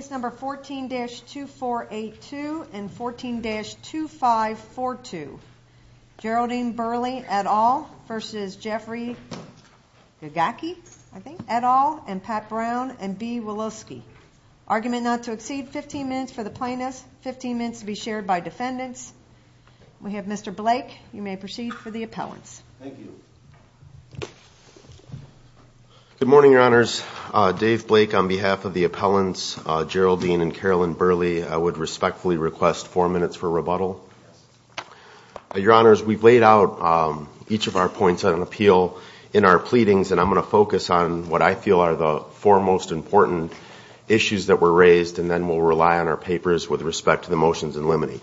14-2482 and 14-2542 Geraldine Burley et al. v. Jefferey Gagacki et al. and Pat Brown and B. Woloski Argument not to exceed 15 minutes for the plaintiffs, 15 minutes to be shared by defendants We have Mr. Blake, you may proceed for the appellants Thank you. Good morning your honors, Dave Blake on behalf of the appellants, Geraldine and Carolyn Burley I would respectfully request four minutes for rebuttal Your honors, we've laid out each of our points on appeal in our pleadings and I'm going to focus on what I feel are the four most important issues that were raised and then we'll rely on our papers with respect to the motions in limine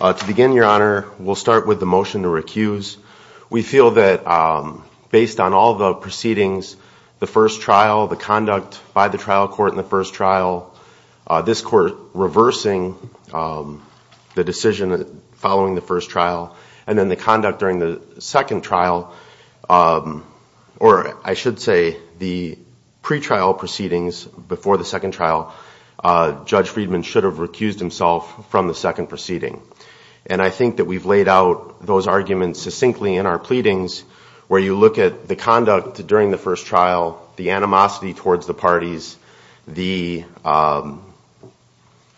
To begin your honor, we'll start with the motion to recuse We feel that based on all the proceedings, the first trial, the conduct by the trial court in the first trial this court reversing the decision following the first trial and then the conduct during the second trial or I should say the pre-trial proceedings before the second trial Judge Friedman should have recused himself from the second proceeding and I think that we've laid out those arguments succinctly in our pleadings where you look at the conduct during the first trial, the animosity towards the parties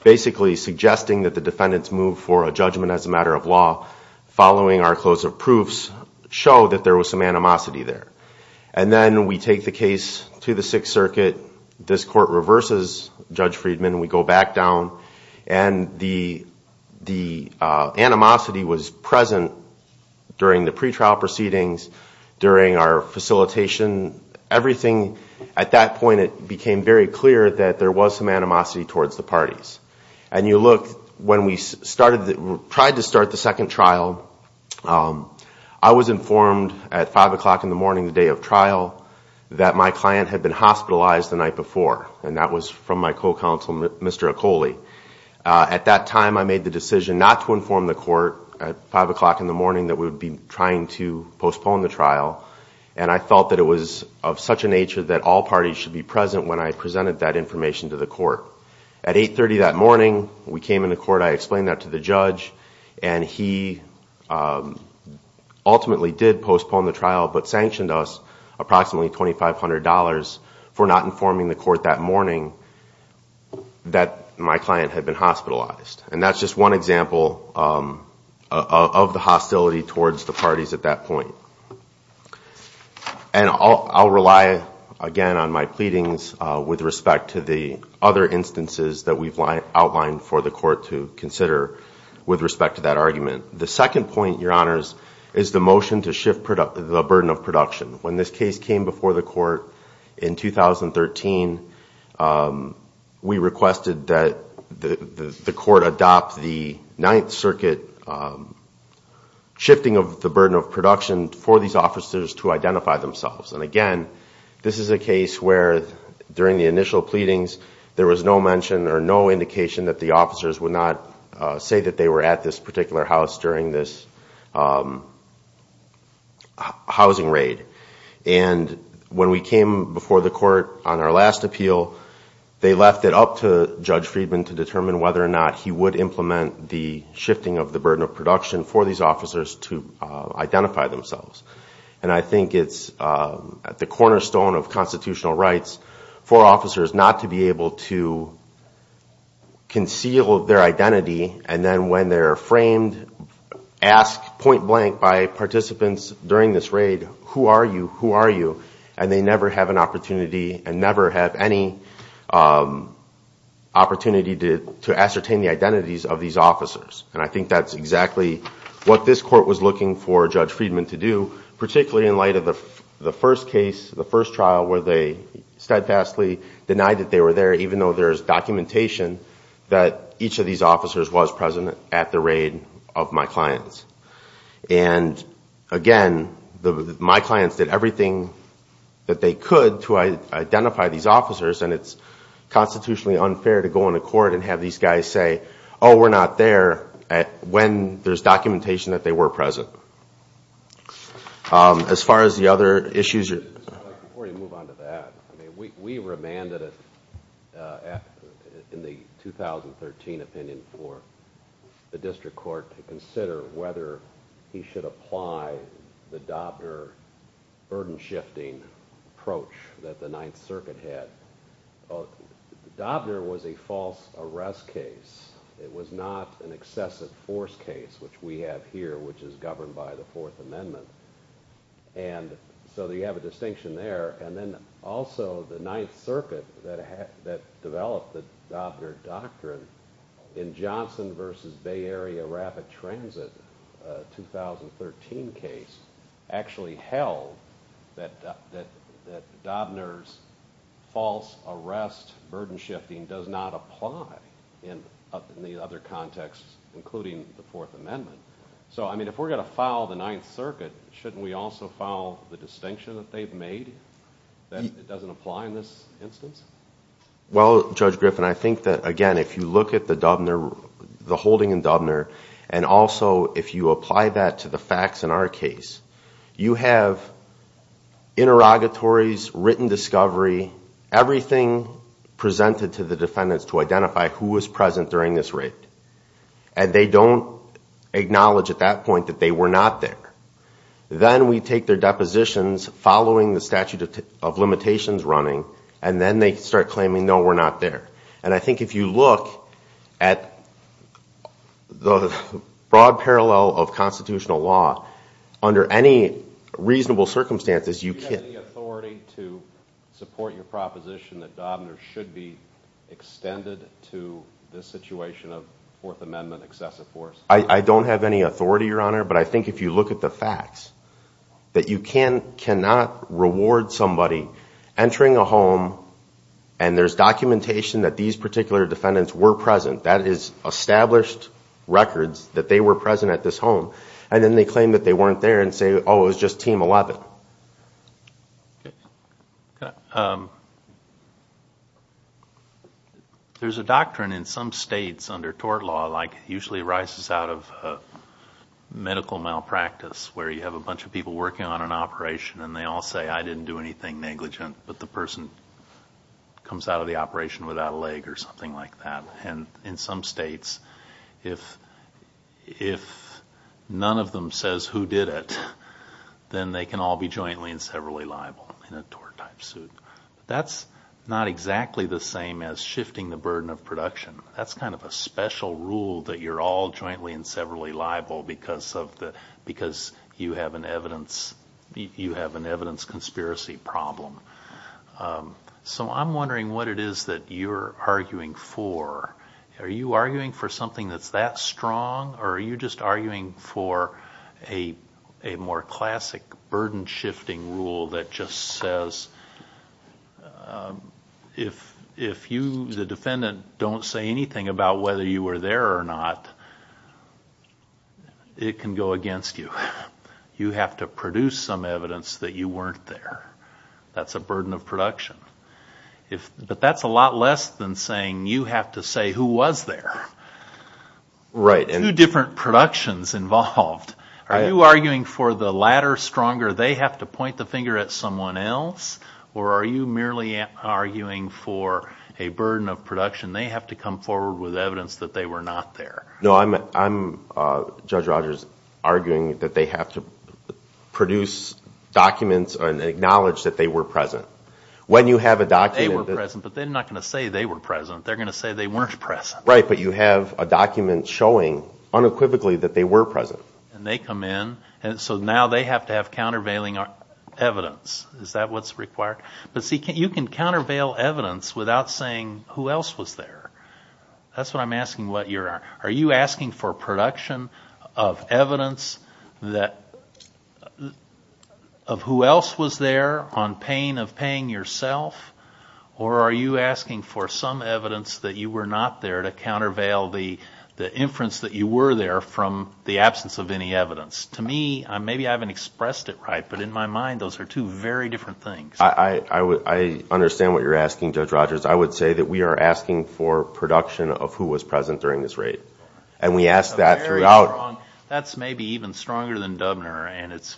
basically suggesting that the defendants move for a judgment as a matter of law following our close of proofs show that there was some animosity there and then we take the case to the Sixth Circuit this court reverses Judge Friedman, we go back down and the animosity was present during the pre-trial proceedings during our facilitation, everything at that point it became very clear that there was some animosity towards the parties and you look when we tried to start the second trial I was informed at 5 o'clock in the morning the day of trial that my client had been hospitalized the night before and that was from my co-counsel Mr. Ecole at that time I made the decision not to inform the court at 5 o'clock in the morning that we would be trying to postpone the trial and I felt that it was of such a nature that all parties should be present when I presented that information to the court at 8.30 that morning we came into court, I explained that to the judge and he ultimately did postpone the trial but sanctioned us approximately $2,500 for not informing the court that morning that my client had been hospitalized and that's just one example of the hostility towards the parties at that point. And I'll rely again on my pleadings with respect to the other instances that we've outlined for the court to consider with respect to that argument. The second point, your honors, is the motion to shift the burden of production. When this case came before the court in 2013 we requested that the court adopt the Ninth Circuit shifting of the burden of production for these officers to identify themselves and again this is a case where during the initial pleadings there was no mention or no indication that the officers would not say that they were at this particular house during this housing raid. And when we came before the court on our last appeal they left it up to Judge Friedman to determine whether or not he would implement the shifting of the burden of production for these officers to identify themselves. And I think it's at the cornerstone of constitutional rights for officers not to be able to conceal their identity and then when they're framed, asked point blank by participants during this raid, who are you, who are you, and they never have an opportunity and never have any opportunity to ascertain the identities of these officers. And I think that's exactly what this court was looking for Judge Friedman to do, particularly in light of the first case, the first trial where they steadfastly denied that they were there even though there is documentation that each of these officers was present at the raid of my clients. And again, my clients did everything that they could to identify these officers and it's constitutionally unfair to go into court and have these guys say, oh we're not there when there's documentation that they were present. As far as the other issues. Before you move on to that, we remanded in the 2013 opinion for the district court to consider whether he should apply the Dobner burden shifting approach that the Ninth Circuit had. Dobner was a false arrest case. It was not an excessive force case, which we have here, which is governed by the Fourth Amendment. So you have a distinction there. And then also the Ninth Circuit that developed the Dobner doctrine in Johnson v. Bay Area Rapid Transit 2013 case actually held that Dobner's false arrest burden shifting does not apply in the other contexts, including the Fourth Amendment. So if we're going to file the Ninth Circuit, shouldn't we also file the distinction that they've made that it doesn't apply in this instance? Well, Judge Griffin, I think that, again, if you look at the holding in Dobner and also if you apply that to the facts in our case, you have interrogatories, written discovery, everything presented to the defendants to identify who was present during this raid. And they don't acknowledge at that point that they were not there. Then we take their depositions following the statute of limitations running, and then they start claiming, no, we're not there. And I think if you look at the broad parallel of constitutional law, under any reasonable circumstances you can't. Do you have the authority to support your proposition that Dobner should be extended to this situation of Fourth Amendment excessive force? I don't have any authority, Your Honor, but I think if you look at the facts, that you cannot reward somebody entering a home and there's documentation that these particular defendants were present. That is established records that they were present at this home. And then they claim that they weren't there and say, oh, it was just Team 11. Okay. There's a doctrine in some states under tort law, like it usually arises out of medical malpractice, where you have a bunch of people working on an operation and they all say, I didn't do anything negligent, but the person comes out of the operation without a leg or something like that. And in some states, if none of them says who did it, then they can all be jointly and severally liable in a tort-type suit. That's not exactly the same as shifting the burden of production. That's kind of a special rule that you're all jointly and severally liable because you have an evidence conspiracy problem. So I'm wondering what it is that you're arguing for. Are you arguing for something that's that strong or are you just arguing for a more classic burden-shifting rule that just says, if you, the defendant, don't say anything about whether you were there or not, it can go against you. You have to produce some evidence that you weren't there. That's a burden of production. But that's a lot less than saying you have to say who was there. Two different productions involved. Are you arguing for the latter stronger? They have to point the finger at someone else? Or are you merely arguing for a burden of production? They have to come forward with evidence that they were not there. No, I'm, Judge Rogers, arguing that they have to produce documents and acknowledge that they were present. They were present, but they're not going to say they were present. They're going to say they weren't present. Right, but you have a document showing unequivocally that they were present. And they come in, and so now they have to have countervailing evidence. Is that what's required? But see, you can countervail evidence without saying who else was there. That's what I'm asking. Are you asking for production of evidence of who else was there on pain of paying yourself? Or are you asking for some evidence that you were not there to countervail the inference that you were there from the absence of any evidence? To me, maybe I haven't expressed it right, but in my mind those are two very different things. I understand what you're asking, Judge Rogers. I would say that we are asking for production of who was present during this raid. And we ask that throughout. That's maybe even stronger than Dubner, and it's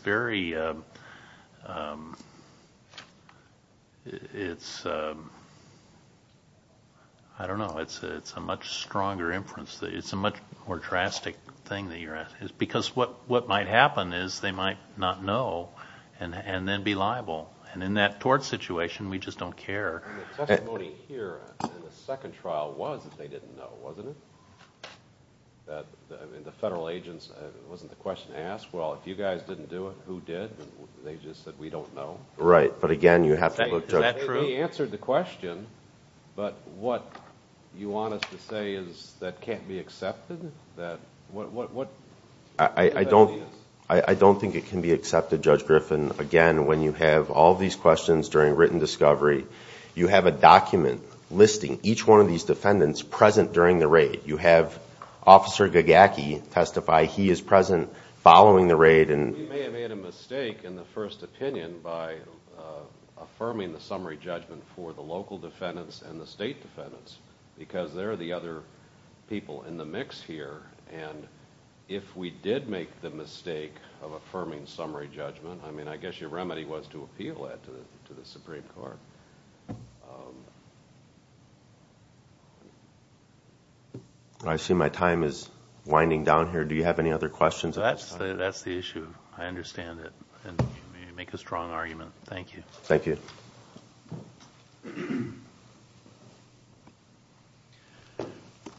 a much stronger inference. It's a much more drastic thing that you're asking. Because what might happen is they might not know and then be liable. And in that tort situation, we just don't care. The testimony here in the second trial was that they didn't know, wasn't it? The federal agents, wasn't the question asked? Well, if you guys didn't do it, who did? They just said, we don't know. We answered the question, but what you want us to say is that can't be accepted? I don't think it can be accepted, Judge Griffin. Again, when you have all these questions during written discovery, you have a document listing each one of these defendants present during the raid. You have Officer Gagacki testify. He is present following the raid. We may have made a mistake in the first opinion by affirming the summary judgment for the local defendants and the state defendants. Because they're the other people in the mix here. And if we did make the mistake of affirming summary judgment, I guess your remedy was to appeal that to the Supreme Court. I see my time is winding down here. Do you have any other questions at this time? That's the issue. I understand it. You make a strong argument. Thank you. Thank you.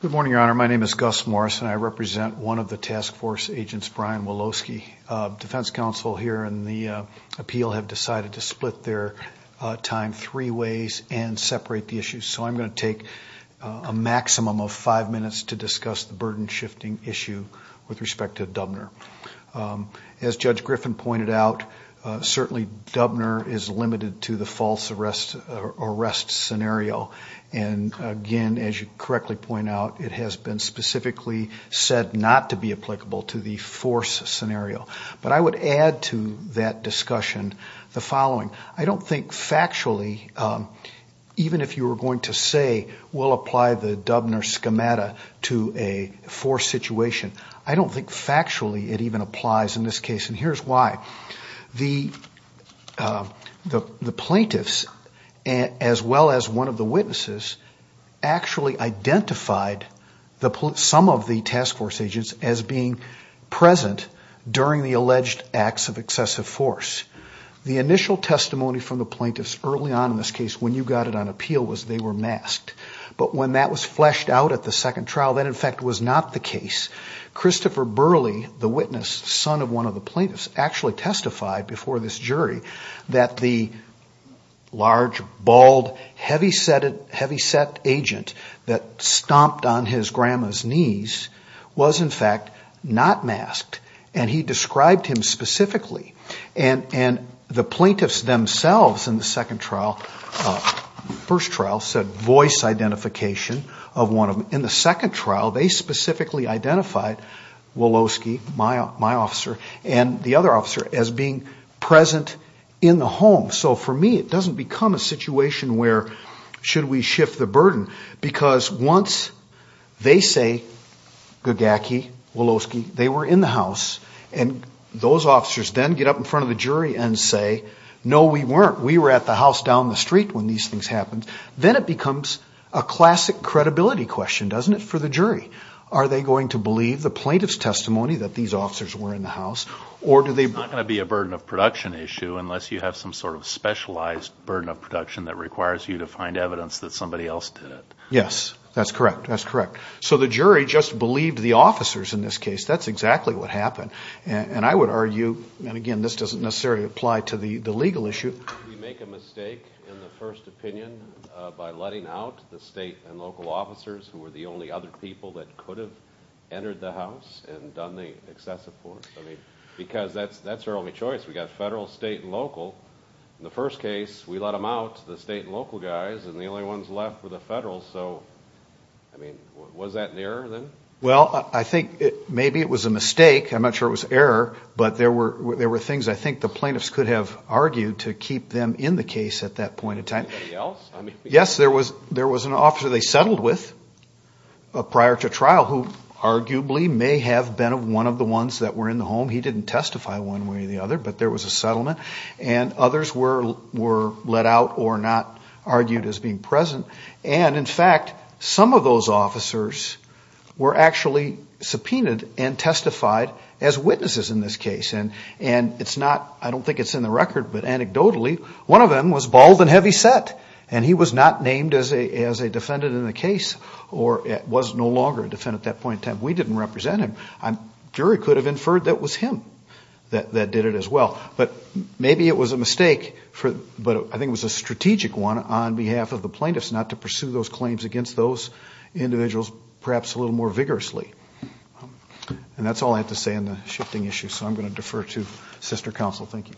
Good morning, Your Honor. My name is Gus Morris and I represent one of the task force agents, Brian Woloski. Defense counsel here in the appeal have decided to split their time three ways and separate the issues. So I'm going to take a maximum of five minutes to discuss the burden shifting issue with respect to Dubner. As Judge Griffin pointed out, certainly Dubner is limited to the false arrest scenario. And again, as you correctly point out, it has been specifically said not to be applicable to the force scenario. But I would add to that discussion the following. I don't think factually, even if you were going to say we'll apply the Dubner schemata to a force situation, I don't think factually it even applies in this case. And here's why. The plaintiffs, as well as one of the witnesses, actually identified some of the task force agents as being present during the alleged acts of excessive force. The initial testimony from the plaintiffs early on in this case when you got it on appeal was they were masked. But when that was fleshed out at the second trial, that in fact was not the case. Christopher Burley, the witness, son of one of the plaintiffs, actually testified before this jury that the large, bald, heavyset agent that stomped on his grandma's knees was in fact not masked. And he described him specifically. And the plaintiffs themselves in the second trial, first trial, said voice identification of one of them. In the second trial they specifically identified Woloski, my officer, and the other officer as being present in the home. So for me it doesn't become a situation where should we shift the burden because once they say Gagacki, Woloski, they were in the house and those officers then get up in front of the jury and say, no, we weren't. We were at the house down the street when these things happened. Then it becomes a classic credibility question, doesn't it, for the jury? Are they going to believe the plaintiff's testimony that these officers were in the house? It's not going to be a burden of production issue unless you have some sort of specialized burden of production that requires you to find evidence that somebody else did it. Yes, that's correct. So the jury just believed the officers in this case. That's exactly what happened. And I would argue, and again this doesn't necessarily apply to the legal issue, we make a mistake in the first opinion by letting out the state and local officers who were the only other people that could have entered the house and done the excessive force. Because that's our only choice. We've got federal, state, and local. In the first case, we let them out, the state and local guys, and the only ones left were the federal. Was that an error then? Well, I think maybe it was a mistake. I'm not sure it was an error, but there were things I think the plaintiffs could have argued to keep them in the case at that point in time. Anybody else? Yes, there was an officer they settled with prior to trial who arguably may have been one of the ones that were in the home. He didn't testify one way or the other, but there was a settlement. And others were let out or not argued as being present. And in fact, some of those officers were actually subpoenaed and testified as witnesses in this case. And it's not, I don't think it's in the record, but anecdotally one of them was bald and heavy set. And he was not named as a defendant in the case or was no longer a defendant at that point in time. We didn't represent him. A jury could have inferred that it was him that did it as well. But maybe it was a mistake, but I think it was a strategic one on behalf of the plaintiffs not to pursue those claims against those individuals perhaps a little more vigorously. And that's all I have to say on the shifting issue, so I'm going to defer to sister counsel. Thank you.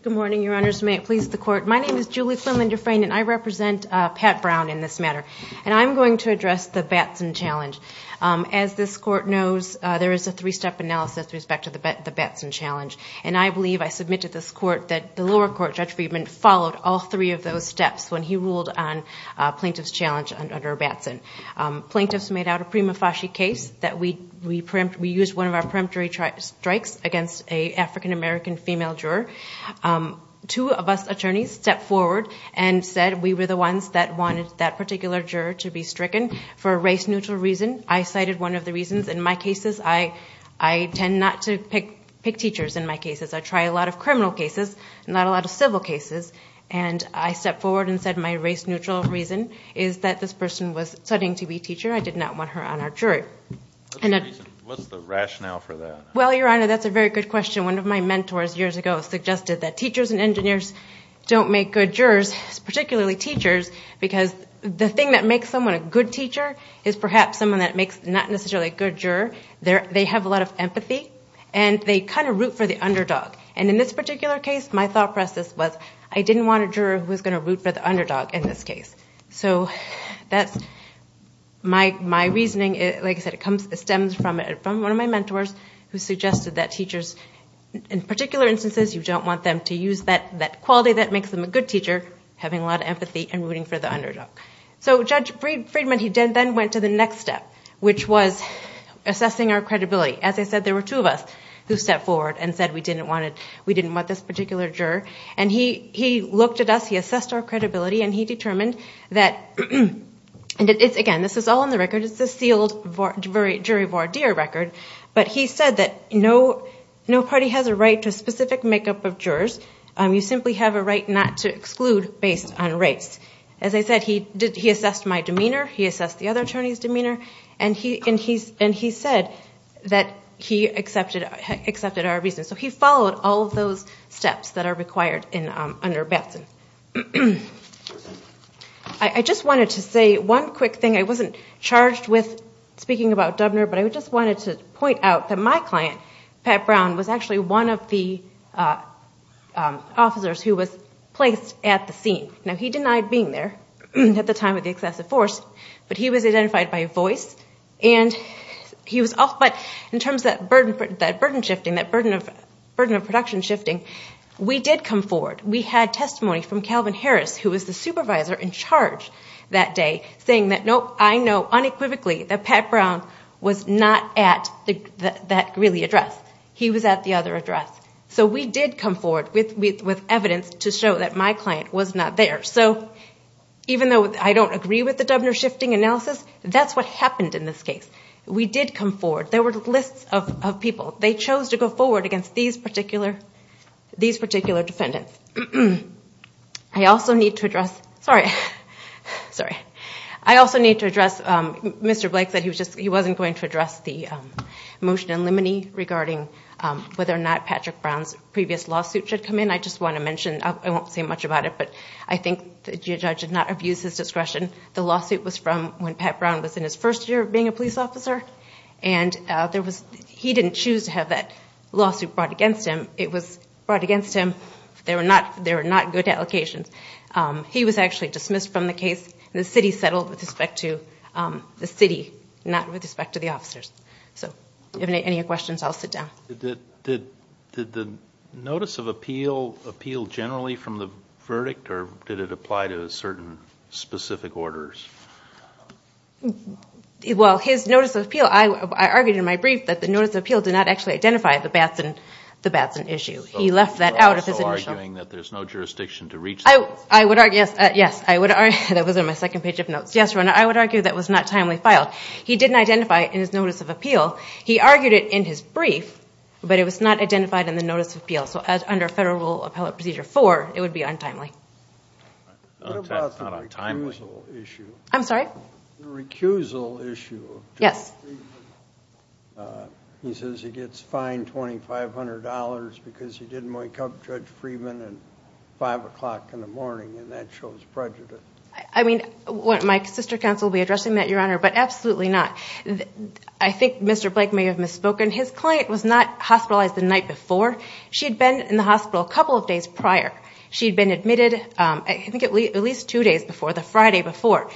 Good morning, your honors. May it please the court. My name is Julie Flynn-Linderfrain, and I represent Pat Brown in this matter. And I'm going to address the Batson challenge. As this court knows, there is a three-step analysis with respect to the Batson challenge. And I believe, I submit to this court, that the lower court, Judge Friedman, followed all three of those steps when he ruled on plaintiff's challenge under Batson. Plaintiffs made out a prima facie case that we used one of our peremptory strikes against an African-American female juror. Two of us attorneys stepped forward and said we were the ones that wanted that particular juror to be stricken for a race-neutral reason. I cited one of the reasons. In my cases, I tend not to pick teachers in my cases. I try a lot of criminal cases, not a lot of civil cases. And I stepped forward and said my race-neutral reason is that this person was studying to be a teacher. I did not want her on our jury. What's the rationale for that? Well, Your Honor, that's a very good question. One of my mentors years ago suggested that teachers and engineers don't make good jurors, particularly teachers, because the thing that makes someone a good teacher is perhaps someone that makes not necessarily a good juror. They have a lot of empathy, and they kind of root for the underdog. And in this particular case, my thought process was I didn't want a juror who was going to root for the underdog in this case. So that's my reasoning. Like I said, it stems from one of my mentors who suggested that teachers, in particular instances, you don't want them to use that quality that makes them a good teacher, having a lot of empathy and rooting for the underdog. So Judge Friedman, he then went to the next step, which was assessing our credibility. As I said, there were two of us who stepped forward and said we didn't want this particular juror. And he looked at us, he assessed our credibility, and he determined that, again, this is all in the record, it's a sealed jury voir dire record, but he said that no party has a right to a specific makeup of jurors. You simply have a right not to exclude based on race. As I said, he assessed my demeanor, he assessed the other attorney's demeanor, and he said that he accepted our reasoning. So he followed all of those steps that are required under Batson. I just wanted to say one quick thing. I wasn't charged with speaking about Dubner, but I just wanted to point out that my client, Pat Brown, was actually one of the officers who was placed at the scene. Now, he denied being there at the time of the excessive force, but he was identified by voice. But in terms of that burden shifting, that burden of production shifting, we did come forward. We had testimony from Calvin Harris, who was the supervisor in charge that day, saying that, nope, I know unequivocally that Pat Brown was not at that really address. He was at the other address. So we did come forward with evidence to show that my client was not there. So even though I don't agree with the Dubner shifting analysis, that's what happened in this case. We did come forward. There were lists of people. They chose to go forward against these particular defendants. I also need to address Mr. Blake, that he wasn't going to address the motion in limine regarding whether or not Patrick Brown's previous lawsuit should come in. I just want to mention, I won't say much about it, but I think the judge did not abuse his discretion. The lawsuit was from when Pat Brown was in his first year of being a police officer. He didn't choose to have that lawsuit brought against him. It was brought against him. There were not good allocations. He was actually dismissed from the case. The city settled with respect to the city, not with respect to the officers. If you have any questions, I'll sit down. Did the notice of appeal appeal generally from the verdict, or did it apply to certain specific orders? Well, his notice of appeal, I argued in my brief that the notice of appeal did not actually identify the Batson issue. So you're also arguing that there's no jurisdiction to reach that? Yes, that was in my second page of notes. Yes, Your Honor, I would argue that was not timely filed. He didn't identify it in his notice of appeal. He argued it in his brief, but it was not identified in the notice of appeal. So under Federal Rule Appellate Procedure 4, it would be untimely. What about the recusal issue? I'm sorry? The recusal issue of Judge Friedman. He says he gets fined $2,500 because he didn't wake up Judge Friedman at 5 o'clock in the morning, and that shows prejudice. I mean, my sister counsel will be addressing that, Your Honor, but absolutely not. I think Mr. Blake may have misspoken. His client was not hospitalized the night before. She had been in the hospital a couple of days prior. She had been admitted I think at least two days before, the Friday before.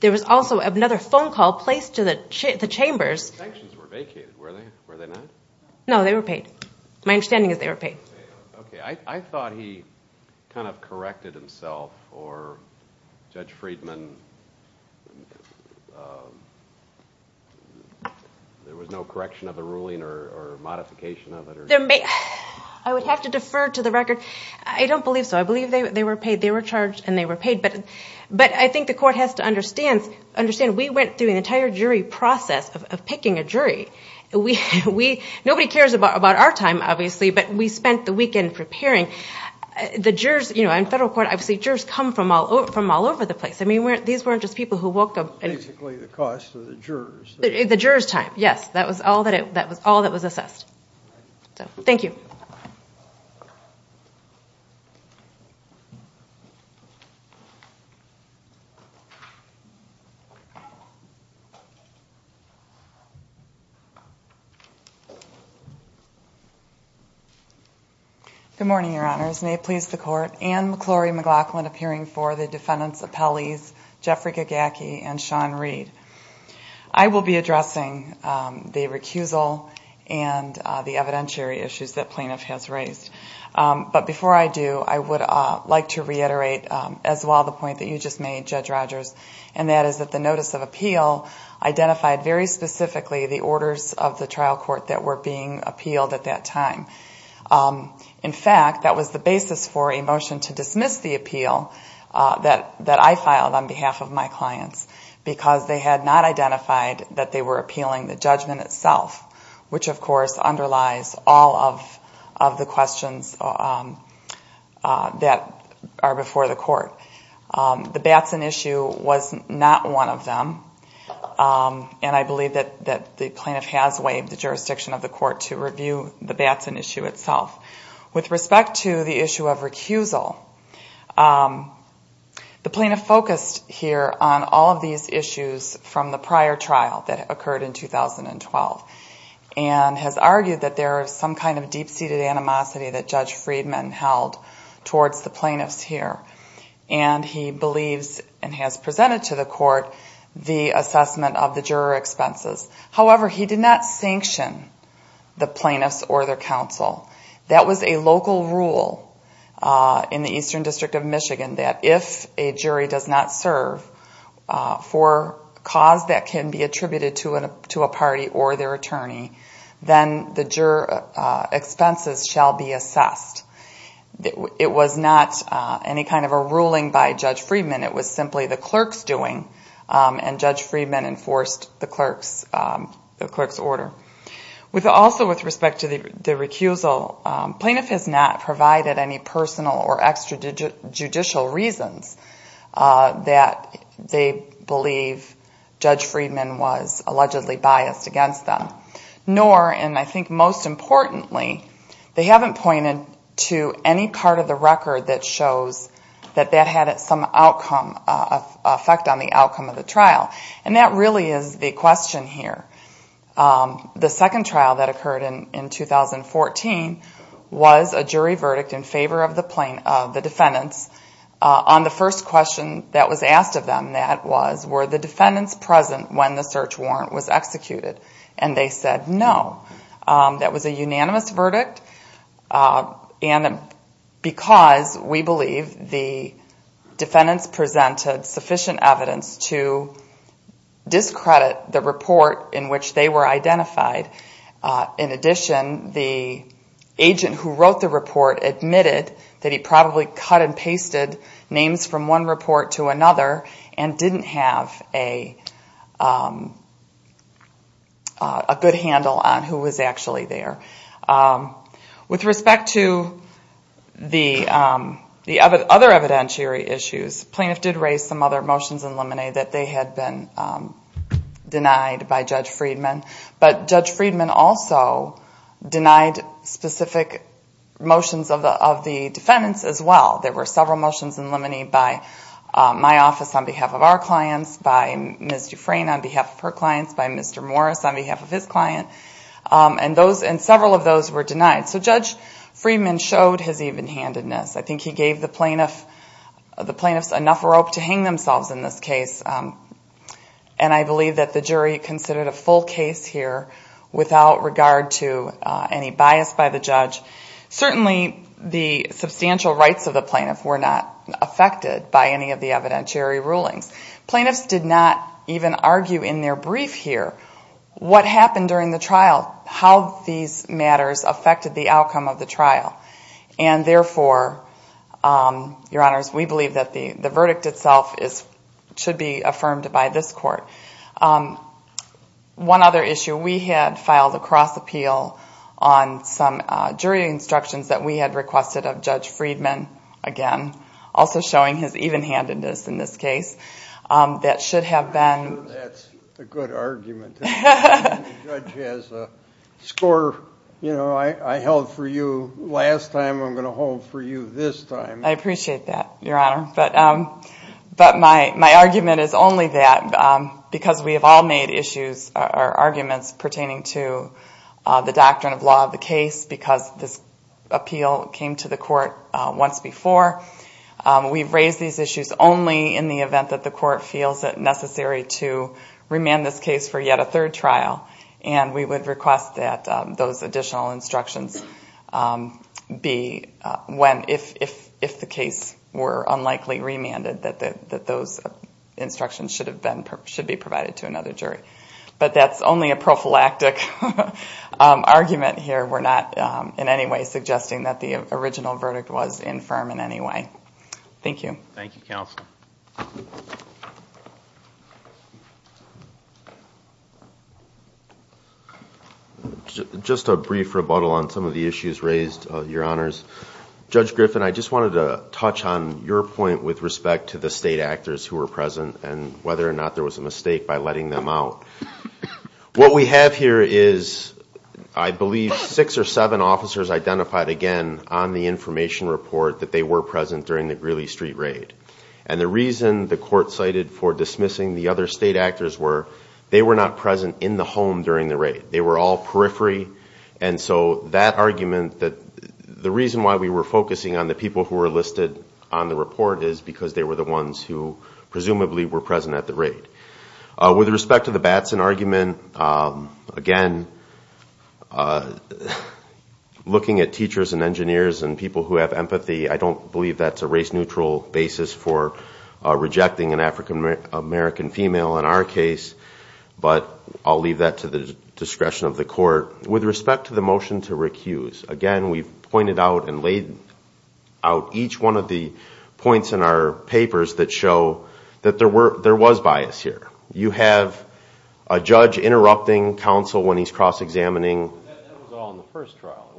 There was also another phone call placed to the chambers. The sanctions were vacated, were they not? No, they were paid. My understanding is they were paid. Okay, I thought he kind of corrected himself for Judge Friedman. There was no correction of the ruling or modification of it? I would have to defer to the record. I don't believe so. I believe they were paid. They were charged and they were paid, but I think the court has to understand we went through an entire jury process of picking a jury. Nobody cares about our time, obviously, but we spent the weekend preparing. The jurors in federal court, obviously jurors come from all over the place. These weren't just people who woke up. Basically the cost of the jurors. The jurors' time, yes. That was all that was assessed. Thank you. Good morning, Your Honors. May it please the Court. Ann McClory McLaughlin appearing for the defendants' appellees, Jeffrey Gagacki and Sean Reed. I will be addressing the recusal and the evidentiary issues that plaintiff has raised. But before I do, I would like to reiterate as well the point that you just made, Judge Rogers, and that is that the notice of appeal identified very specifically the orders of the trial court that were being appealed at that time. In fact, that was the basis for a motion to dismiss the appeal that I filed on behalf of my clients because they had not identified that they were appealing the judgment itself, which of course underlies all of the questions that are before the court. The Batson issue was not one of them, and I believe that the plaintiff has waived the jurisdiction of the court to review the Batson issue itself. With respect to the issue of recusal, the plaintiff focused here on all of these issues from the prior trial that occurred in 2012 and has argued that there is some kind of deep-seated animosity that Judge Friedman held towards the plaintiffs here. And he believes and has presented to the court the assessment of the juror expenses. However, he did not sanction the plaintiffs or their counsel. That was a local rule in the Eastern District of Michigan that if a jury does not serve for cause that can be attributed to a party or their attorney, then the juror expenses shall be assessed. It was not any kind of a ruling by Judge Friedman. It was simply the clerk's doing, and Judge Friedman enforced the clerk's order. Also with respect to the recusal, the plaintiff has not provided any personal or extrajudicial reasons that they believe Judge Friedman was allegedly biased against them. Nor, and I think most importantly, they haven't pointed to any part of the record that shows that that had some effect on the outcome of the trial. And that really is the question here. The second trial that occurred in 2014 was a jury verdict in favor of the defendants on the first question that was asked of them. That was, were the defendants present when the search warrant was executed? And they said no. That was a unanimous verdict and because we believe the defendants presented sufficient evidence to discredit the report in which they were identified. In addition, the agent who wrote the report admitted that he probably cut and pasted names from one report to another and didn't have a good handle on who was actually there. With respect to the other evidentiary issues, the plaintiff did raise some other motions in limine that they had been denied by Judge Friedman. But Judge Friedman also denied specific motions of the defendants as well. There were several motions in limine by my office on behalf of our clients, by Ms. Dufresne on behalf of her clients, by Mr. Morris on behalf of his client. And several of those were denied. So Judge Friedman showed his even-handedness. I think he gave the plaintiffs enough rope to hang themselves in this case. And I believe that the jury considered a full case here without regard to any bias by the judge. Certainly the substantial rights of the plaintiff were not affected by any of the evidentiary rulings. Plaintiffs did not even argue in their brief here what happened during the trial, how these matters affected the outcome of the trial. And therefore, Your Honors, we believe that the verdict itself should be affirmed by this Court. One other issue. We had filed a cross-appeal on some jury instructions that we had requested of Judge Friedman, again, also showing his even-handedness in this case. That should have been... That's a good argument. The judge has a score, you know, I held for you last time, I'm going to hold for you this time. I appreciate that, Your Honor. But my argument is only that because we have all made issues or arguments pertaining to the doctrine of law of the case because this appeal came to the Court once before. We've raised these issues only in the event that the Court feels it necessary to remand this case for yet a third trial. And we would request that those additional instructions be... If the case were unlikely remanded, that those instructions should be provided to another jury. But that's only a prophylactic argument here. We're not in any way suggesting that the original verdict was infirm in any way. Thank you. Thank you, Counsel. Just a brief rebuttal on some of the issues raised, Your Honors. Judge Griffin, I just wanted to touch on your point with respect to the state actors who were present and whether or not there was a mistake by letting them out. What we have here is, I believe, six or seven officers identified, again, on the information report that they were present during the Greeley Street Raid. And the reason the Court cited for dismissing the other state actors were they were not present in the home during the raid. They were all periphery. And so that argument that... The reason why we were focusing on the people who were listed on the report is because they were the ones who presumably were present at the raid. With respect to the Batson argument, again, looking at teachers and engineers and people who have empathy, I don't believe that's a race-neutral basis for rejecting an African-American female in our case. But I'll leave that to the discretion of the Court. With respect to the motion to recuse, again, we've pointed out and laid out each one of the points in our papers that show that there was bias here. You have a judge interrupting counsel when he's cross-examining... That was all in the first trial.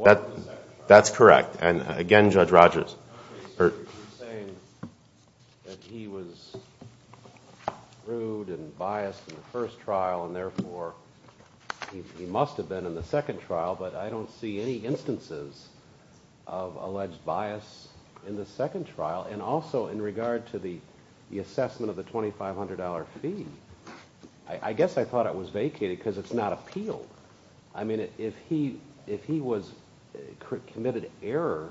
That's correct. And again, Judge Rodgers... You're saying that he was rude and biased in the first trial and therefore he must have been in the second trial, but I don't see any instances of alleged bias in the second trial. And also, in the first trial, in regard to the assessment of the $2,500 fee, I guess I thought it was vacated because it's not appealed. I mean, if he was... committed error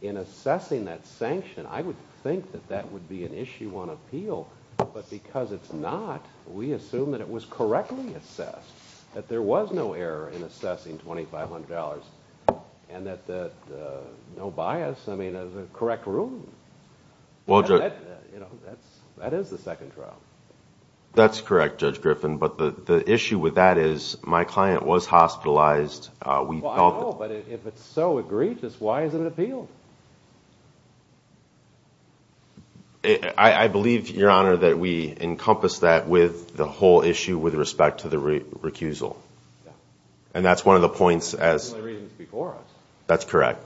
in assessing that sanction, I would think that that would be an Issue 1 appeal, but because it's not, we assume that it was correctly assessed, that there was no error in assessing $2,500, and that no bias... was a correct ruling. That is the second trial. That's correct, Judge Griffin, but the issue with that is my client was hospitalized. I know, but if it's so egregious, why isn't it appealed? I believe, Your Honor, that we encompass that with the whole issue with respect to the recusal. And that's one of the points as... That's correct.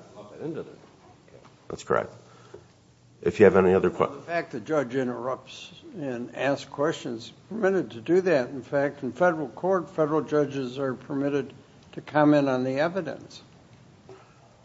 The fact that the judge interrupts and asks questions is permitted to do that, in fact. In federal court, federal judges are permitted to comment on the evidence.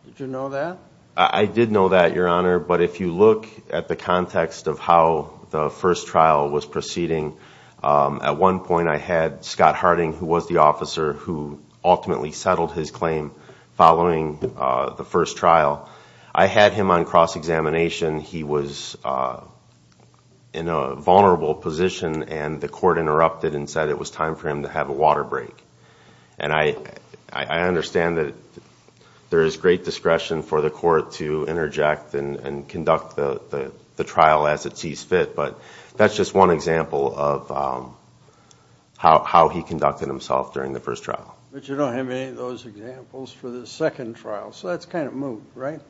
Did you know that? I did know that, Your Honor, but if you look at the context of how the first trial was proceeding, at one point I had Scott Harding, who was the officer who ultimately settled his claim following the first trial. I had him on cross-examination. He was in a vulnerable position, and the court interrupted and said it was time for him to have a water break. And I understand that there is great discretion for the court to interject and conduct the trial as it sees fit, but that's just one example of how he conducted himself during the first trial. But you don't have any of those examples for the second trial, so that's kind of moot, right?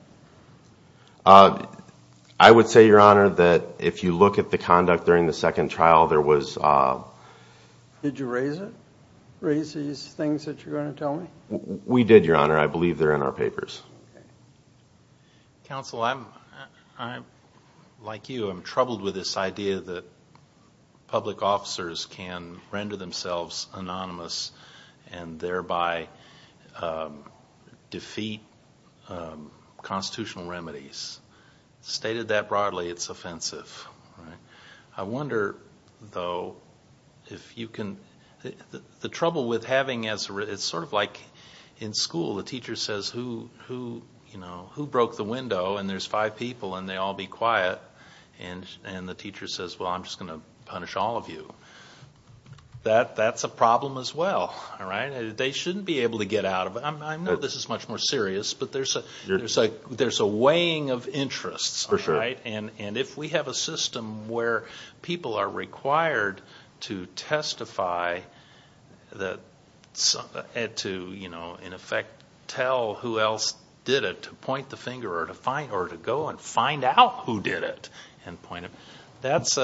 I would say, Your Honor, that if you look at the conduct during the second trial, there was... Did you raise it? Raise these things that you're going to tell me? We did, Your Honor. I believe they're in our papers. Okay. Counsel, like you, I'm troubled with this idea that public officers can render themselves anonymous and thereby defeat constitutional remedies. Stated that broadly, it's offensive. I wonder, though, if you can... The trouble with having... It's sort of like in school, the teacher says, who broke the window? And there's five people and they all be quiet. And the teacher says, well, I'm just going to punish all of you. That's a problem as well. They shouldn't be able to get out of it. I know this is much more serious, but there's a weighing of interests. And if we have a system where people are required to testify and to, in effect, tell who else did it to point the finger or to go and find out who did it and point it, that's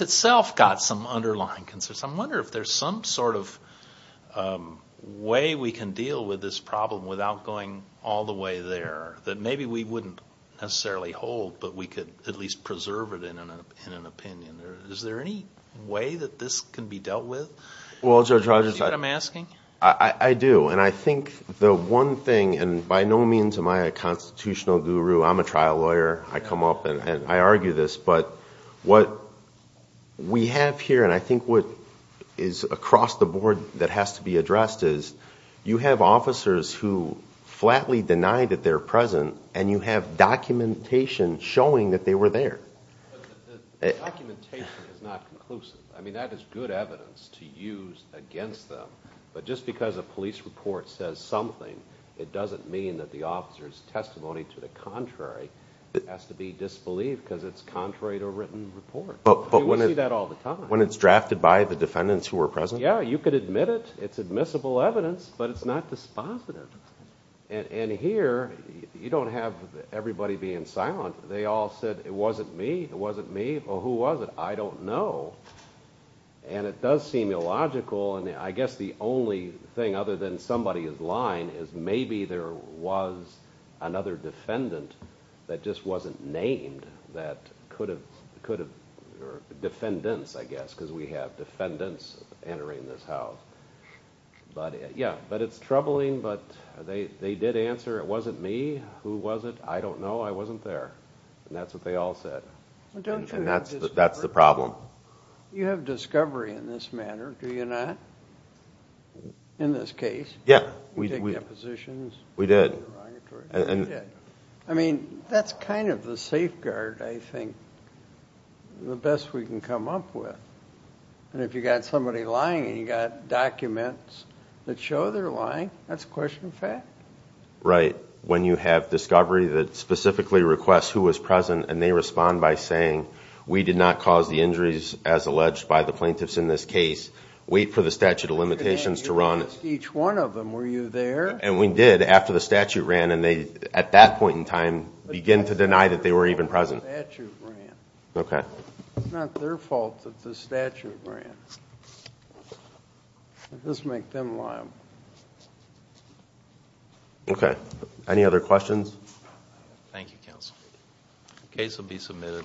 itself got some underlying concerns. I wonder if there's some sort of way we can deal with this problem without going all the way there, that maybe we wouldn't necessarily hold, but we could at least preserve it in an opinion. Is there any way that this can be dealt with? Do you see what I'm asking? I do. And I think the one thing, and by no means am I a constitutional guru. I'm a trial lawyer. I come up and I argue this. But what we have here, and I think what is across the board that has to be addressed is you have officers who flatly deny that they're present, and you have documentation showing that they were there. The documentation is not conclusive. I mean, that is good evidence to use against them. But just because a police report says something, it doesn't mean that the officer's testimony to the contrary has to be disbelieved, because it's contrary to a written report. We see that all the time. When it's drafted by the defendants who were present? Yeah, you could admit it. It's admissible evidence, but it's not dispositive. And here, you don't have everybody being silent. They all said, it wasn't me, it wasn't me. Well, who was it? I don't know. And it does seem illogical, and I guess the only thing, other than somebody is lying, is maybe there was another defendant that just wasn't named that could have defendants, I guess, because we have defendants entering this house. But it's troubling, but they did answer, it wasn't me. Who was it? I don't know. I wasn't there. And that's what they all said. And that's the problem. You have discovery in this manner, do you not? In this case? Yeah. We did. I mean, that's kind of the safeguard, I think, the best we can come up with. And if you've got somebody lying and you've got documents that show they're lying, that's a question of fact. Right. When you have discovery that specifically requests who was present, and they respond by saying, we did not cause the injuries as alleged by the plaintiffs in this case. Wait for the statute of limitations to run. You didn't ask each one of them, were you there? And we did, after the statute ran, and they, at that point in time, began to deny that they were even present. It's not their fault that the statute ran. It doesn't make them liable. Okay. Any other questions? Thank you, counsel. The case will be submitted.